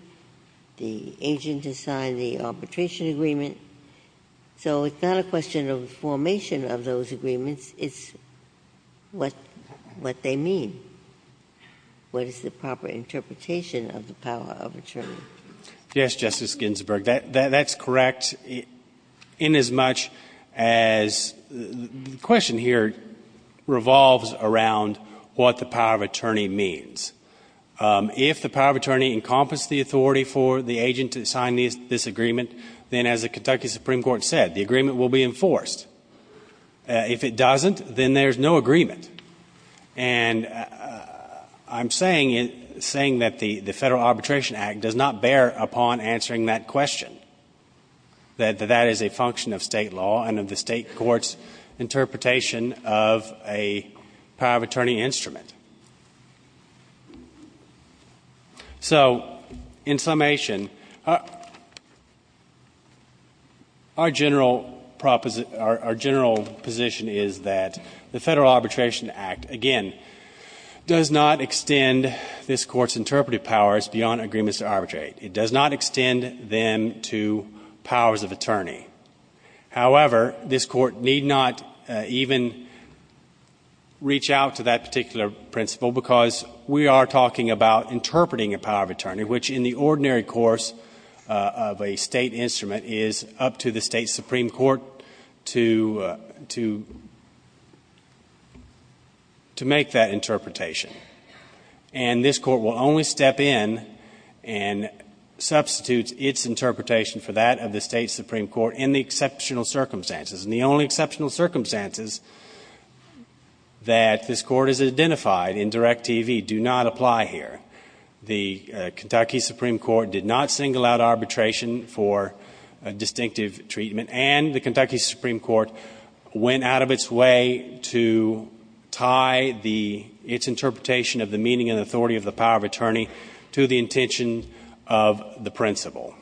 The agent has signed the arbitration agreement. So it's not a question of the formation of those agreements. It's what they mean. What is the proper interpretation of the power of attorney? Yes, Justice Ginsburg. That's correct inasmuch as the question here revolves around what the power of attorney means. If the power of attorney encompasses the authority for the agent to sign this agreement, then as the Kentucky Supreme Court said, the agreement will be enforced. If it doesn't, then there's no agreement. And I'm saying that the Federal Arbitration Act does not bear upon answering that question, that that is a function of State law and of the State court's interpretation of a power of attorney instrument. So, in summation, our general proposition is that the Federal Arbitration Act, again, does not extend this Court's interpretive powers beyond agreements to arbitrate. It does not extend them to powers of attorney. However, this Court need not even reach out to that particular principle because we are talking about interpreting a power of attorney, which in the ordinary course of a State instrument is up to the State Supreme Court to make that interpretation. And this Court will only step in and substitute its interpretation for that of the State Supreme Court in the exceptional circumstances. And the only exceptional circumstances that this Court has identified in Direct TV do not apply here. The Kentucky Supreme Court did not single out arbitration for a distinctive treatment and the Kentucky Supreme Court went out of its way to tie its interpretation of the meaning and authority of the power of attorney to the intention of the principle.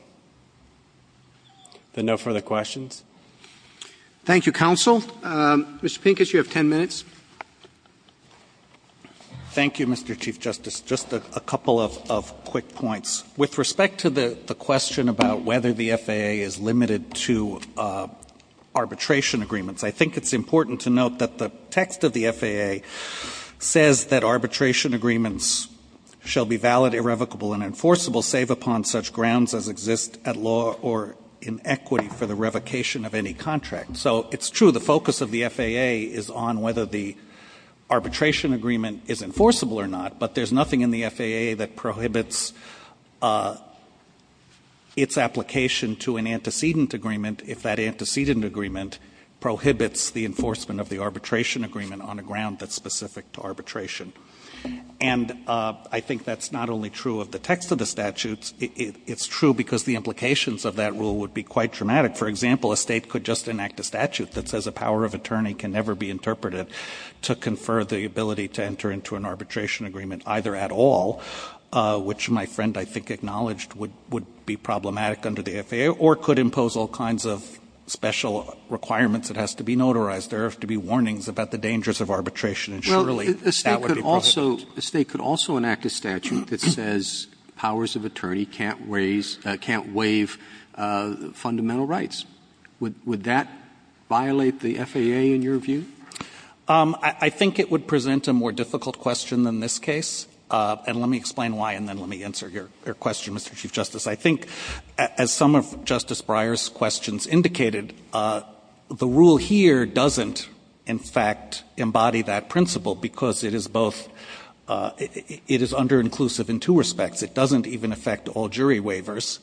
Are there no further questions? Thank you, Counsel. Mr. Pincus, you have 10 minutes. Thank you, Mr. Chief Justice. Just a couple of quick points. With respect to the question about whether the FAA is limited to arbitration agreements, I think it's important to note that the text of the FAA says that arbitration agreements shall be valid, irrevocable, and enforceable save upon such grounds as exist at law or in equity for the revocation of any contract. So it's true the focus of the FAA is on whether the arbitration agreement is enforceable or not, but there's nothing in the FAA that prohibits its application to an antecedent agreement if that antecedent agreement prohibits the enforcement of the arbitration agreement on a ground that's specific to arbitration. And I think that's not only true of the text of the statutes. It's true because the implications of that rule would be quite dramatic. For example, a State could just enact a statute that says a power of attorney can never be interpreted to confer the ability to enter into an arbitration agreement either at all, which my friend, I think, acknowledged would be problematic under the FAA, or could impose all kinds of special requirements. It has to be notarized. There have to be warnings about the dangers of arbitration, and surely that would be prohibited. Roberts. A State could also enact a statute that says powers of attorney can't waive fundamental rights. Would that violate the FAA, in your view? I think it would present a more difficult question than this case, and let me explain why, and then let me answer your question, Mr. Chief Justice. I think, as some of Justice Breyer's questions indicated, the rule here doesn't, in fact, embody that principle because it is both — it is underinclusive in two respects. It doesn't even affect all jury waivers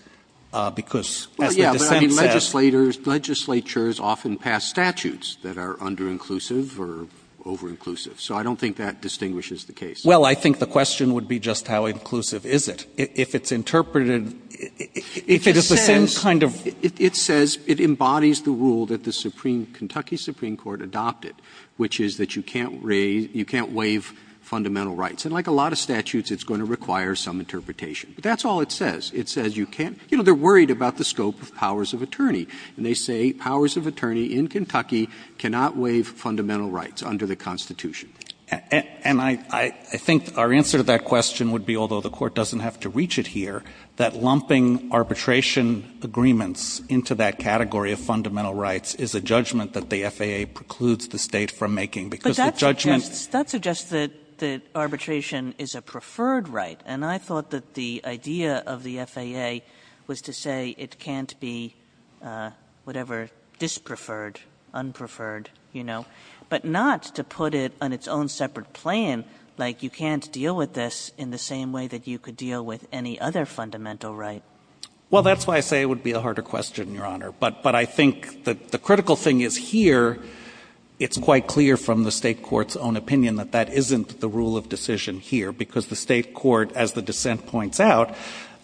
because, as the dissent says— Yes, but I mean, legislators, legislatures often pass statutes that are underinclusive or overinclusive. So I don't think that distinguishes the case. Well, I think the question would be just how inclusive is it. If it's interpreted, if it is the same kind of— It says it embodies the rule that the Supreme — Kentucky Supreme Court adopted, which is that you can't raise — you can't waive fundamental rights. And like a lot of statutes, it's going to require some interpretation. That's all it says. It says you can't — you know, they're worried about the scope of powers of attorney, and they say powers of attorney in Kentucky cannot waive fundamental rights under the Constitution. And I think our answer to that question would be, although the Court doesn't have to reach it here, that lumping arbitration agreements into that category of fundamental rights is a judgment that the FAA precludes the State from making because the judgment— But that suggests that arbitration is a preferred right, and I thought that the idea of the FAA was to say it can't be whatever, dispreferred, unpreferred, you know, but not to put it on its own separate plan, like you can't deal with this in the same way that you could deal with any other fundamental right. Well, that's why I say it would be a harder question, Your Honor. But I think the critical thing is here, it's quite clear from the State court's own opinion that that isn't the rule of decision here because the State court, as the dissent points out,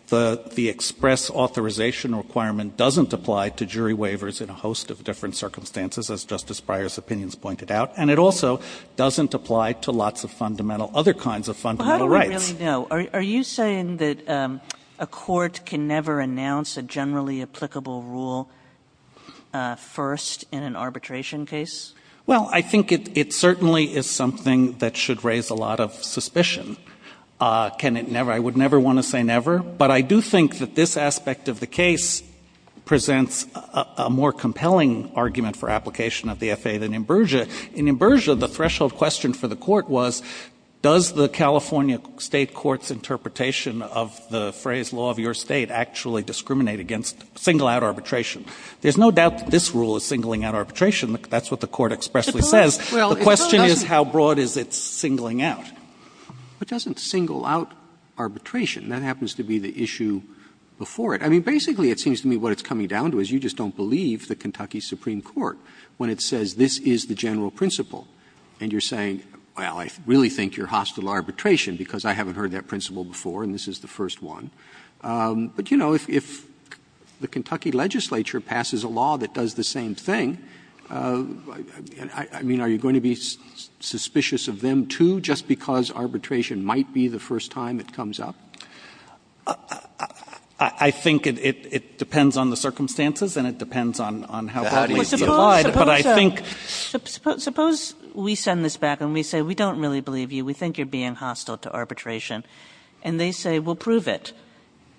the express authorization requirement doesn't apply to jury waivers in a host of different circumstances, as Justice Breyer's opinions pointed out, and it also doesn't apply to lots of other kinds of fundamental rights. Well, how do we really know? Are you saying that a court can never announce a generally applicable rule first in an arbitration case? Can it never? I would never want to say never, but I do think that this aspect of the case presents a more compelling argument for application of the FAA than in Berger. In Berger, the threshold question for the court was, does the California State court's interpretation of the phrase law of your State actually discriminate against single-out arbitration? There's no doubt that this rule is singling out arbitration. That's what the court expressly says. The question is, how broad is it singling out? It doesn't single out arbitration. That happens to be the issue before it. I mean, basically, it seems to me what it's coming down to is you just don't believe the Kentucky Supreme Court when it says this is the general principle, and you're saying, well, I really think you're hostile to arbitration because I haven't heard that principle before and this is the first one. But, you know, if the Kentucky legislature passes a law that does the same thing, I mean, are you going to be suspicious of them, too, just because arbitration might be the first time it comes up? I think it depends on the circumstances and it depends on how broadly it's applied. But I think ---- Kagan. Suppose we send this back and we say, we don't really believe you. We think you're being hostile to arbitration. And they say, we'll prove it.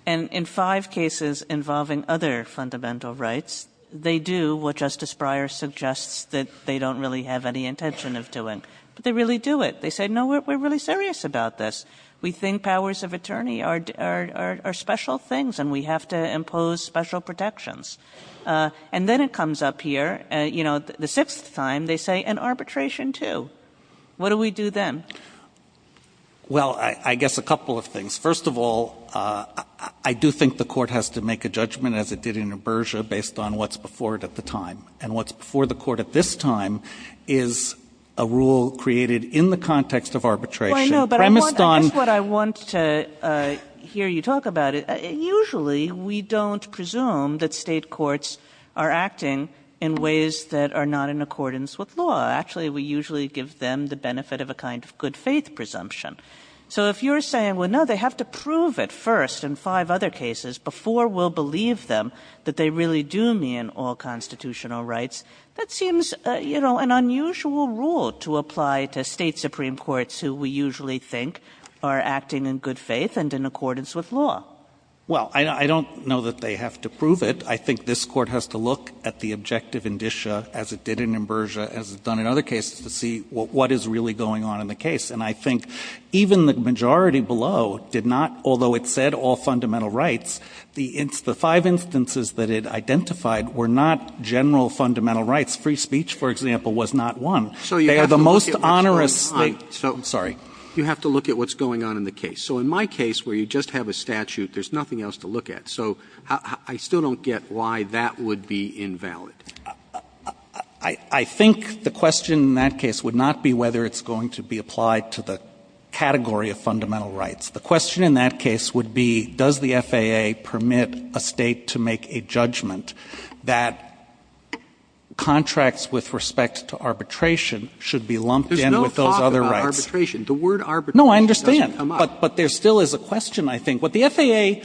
And in five cases involving other fundamental rights, they do what Justice Breyer suggests that they don't really have any intention of doing. But they really do it. They say, no, we're really serious about this. We think powers of attorney are special things and we have to impose special protections. And then it comes up here, you know, the sixth time, they say, and arbitration, too. What do we do then? Well, I guess a couple of things. First of all, I do think the Court has to make a judgment, as it did in Berger, based on what's before it at the time. And what's before the Court at this time is a rule created in the context of arbitration premised on ---- Kagan. Well, I know, but I guess what I want to hear you talk about, usually we don't presume that State courts are acting in ways that are not in accordance with law. Actually, we usually give them the benefit of a kind of good faith presumption. So if you're saying, well, no, they have to prove it first in five other cases before we'll believe them that they really do mean all constitutional rights, that seems, you know, an unusual rule to apply to State supreme courts who we usually think are acting in good faith and in accordance with law. Well, I don't know that they have to prove it. I think this Court has to look at the objective indicia, as it did in Berger, as it has done in other cases, to see what is really going on in the case. And I think even the majority below did not, although it said all fundamental rights, the five instances that it identified were not general fundamental rights. Free speech, for example, was not one. They are the most onerous thing. Roberts So you have to look at what's going on in the case. So in my case, where you just have a statute, there's nothing else to look at. So I still don't get why that would be invalid. I think the question in that case would not be whether it's going to be applied to the category of fundamental rights. The question in that case would be does the FAA permit a State to make a judgment that contracts with respect to arbitration should be lumped in with those other rights. Roberts There's no thought about arbitration. The word arbitration doesn't come up. Pincus No, I understand. But there still is a question, I think. What the FAA,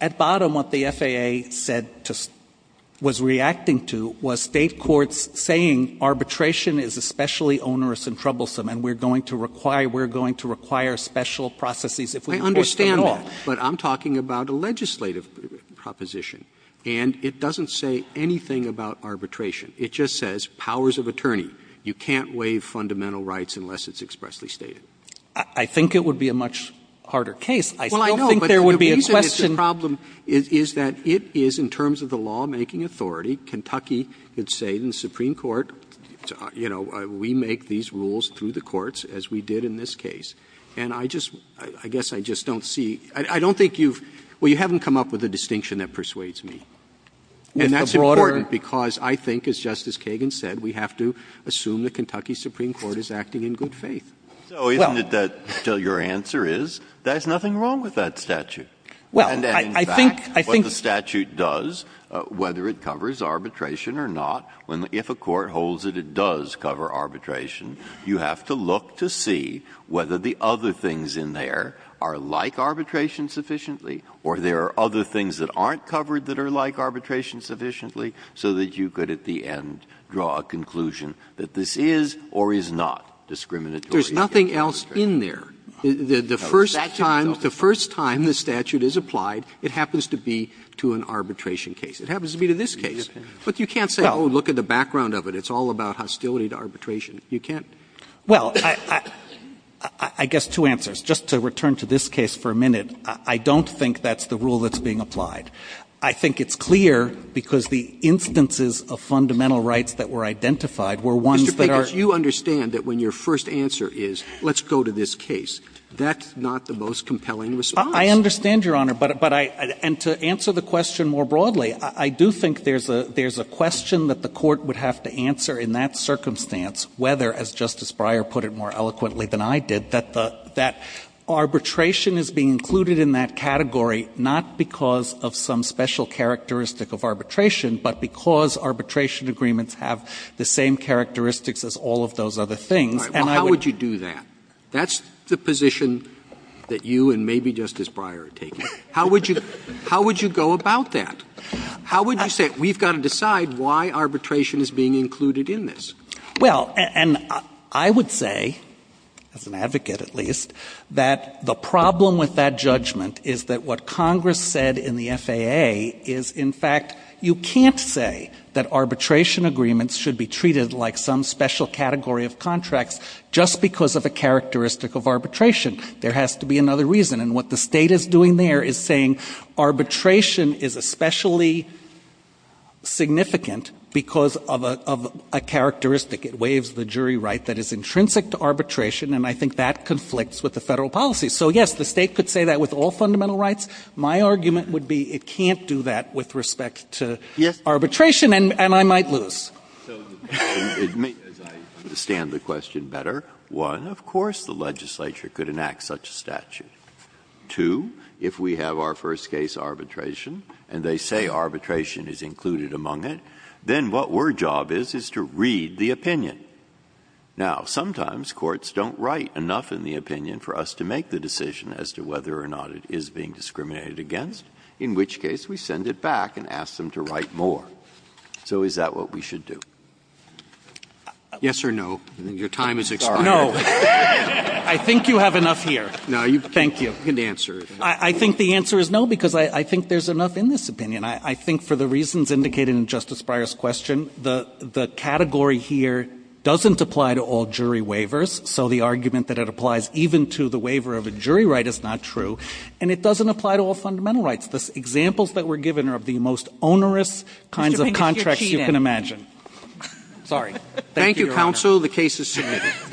at bottom, what the FAA said to — was reacting to was State courts saying arbitration is especially onerous and troublesome and we're going to require special processes if we enforce them at all. Roberts I understand that. But I'm talking about a legislative proposition. And it doesn't say anything about arbitration. It just says powers of attorney. You can't waive fundamental rights unless it's expressly stated. Pincus I think it would be a much harder case. I still think there would be a question. Roberts Well, I know, but the reason it's a problem is that it is, in terms of the lawmaking authority, Kentucky could say in the Supreme Court, you know, we make these rules through the courts as we did in this case. And I just — I guess I just don't see — I don't think you've — well, you haven't come up with a distinction that persuades me. And that's important because I think, as Justice Kagan said, we have to assume the Kentucky Supreme Court is acting in good faith. Breyer So isn't it that your answer is there's nothing wrong with that statute? And in fact, what the statute does, whether it covers arbitration or not, if a court holds that it does cover arbitration, you have to look to see whether the other things in there are like arbitration sufficiently or there are other things that aren't covered that are like arbitration sufficiently so that you could, at the end, draw a conclusion that this is or is not discriminatory. Roberts There's nothing else in there. The first time the statute is applied, it happens to be to an arbitration case. It happens to be to this case. But you can't say, oh, look at the background of it. It's all about hostility to arbitration. Pincus Well, I guess two answers. Just to return to this case for a minute, I don't think that's the rule that's being applied. I think it's clear, because the instances of fundamental rights that were identified were ones that are. Roberts Mr. Pincus, you understand that when your first answer is, let's go to this case, that's not the most compelling response. Pincus I understand, Your Honor. But I – and to answer the question more broadly, I do think there's a question that the Court would have to answer in that circumstance, whether, as Justice Breyer put it more eloquently than I did, that the – that arbitration is being included in that category not because of some special characteristic of arbitration, but because arbitration agreements have the same characteristics as all of those other things, and I would – Roberts All right. Well, how would you do that? That's the position that you and maybe Justice Breyer are taking. How would you – how would you go about that? How would you say, we've got to decide why arbitration is being included in this? Pincus Well, and I would say, as an advocate at least, that the problem with that judgment is that what Congress said in the FAA is, in fact, you can't say that arbitration agreements should be treated like some special category of contracts just because of a characteristic of arbitration. There has to be another reason, and what the State is doing there is saying arbitration is especially significant because of a – of a characteristic. It waives the jury right that is intrinsic to arbitration, and I think that conflicts with the Federal policy. So, yes, the State could say that with all fundamental rights. My argument would be it can't do that with respect to arbitration, and I might lose. Breyer So it may – as I understand the question better, one, of course the legislature could enact such a statute. Two, if we have our first case arbitration and they say arbitration is included among it, then what we're job is, is to read the opinion. Now, sometimes courts don't write enough in the opinion for us to make the decision as to whether or not it is being discriminated against, in which case we send it back and ask them to write more. So is that what we should do? Pincus Yes or no? Your time has expired. Roberts I think you have enough here. Pincus No, you can answer. Roberts I think the answer is no, because I think there's enough in this opinion. I think for the reasons indicated in Justice Breyer's question, the category here doesn't apply to all jury waivers, so the argument that it applies even to the waiver of a jury right is not true. And it doesn't apply to all fundamental rights. The examples that were given are of the most onerous kinds of contracts you can imagine. Sotomayor Mr. Pincus, you're cheating. Pincus Sorry. Roberts Thank you, counsel. The case is submitted.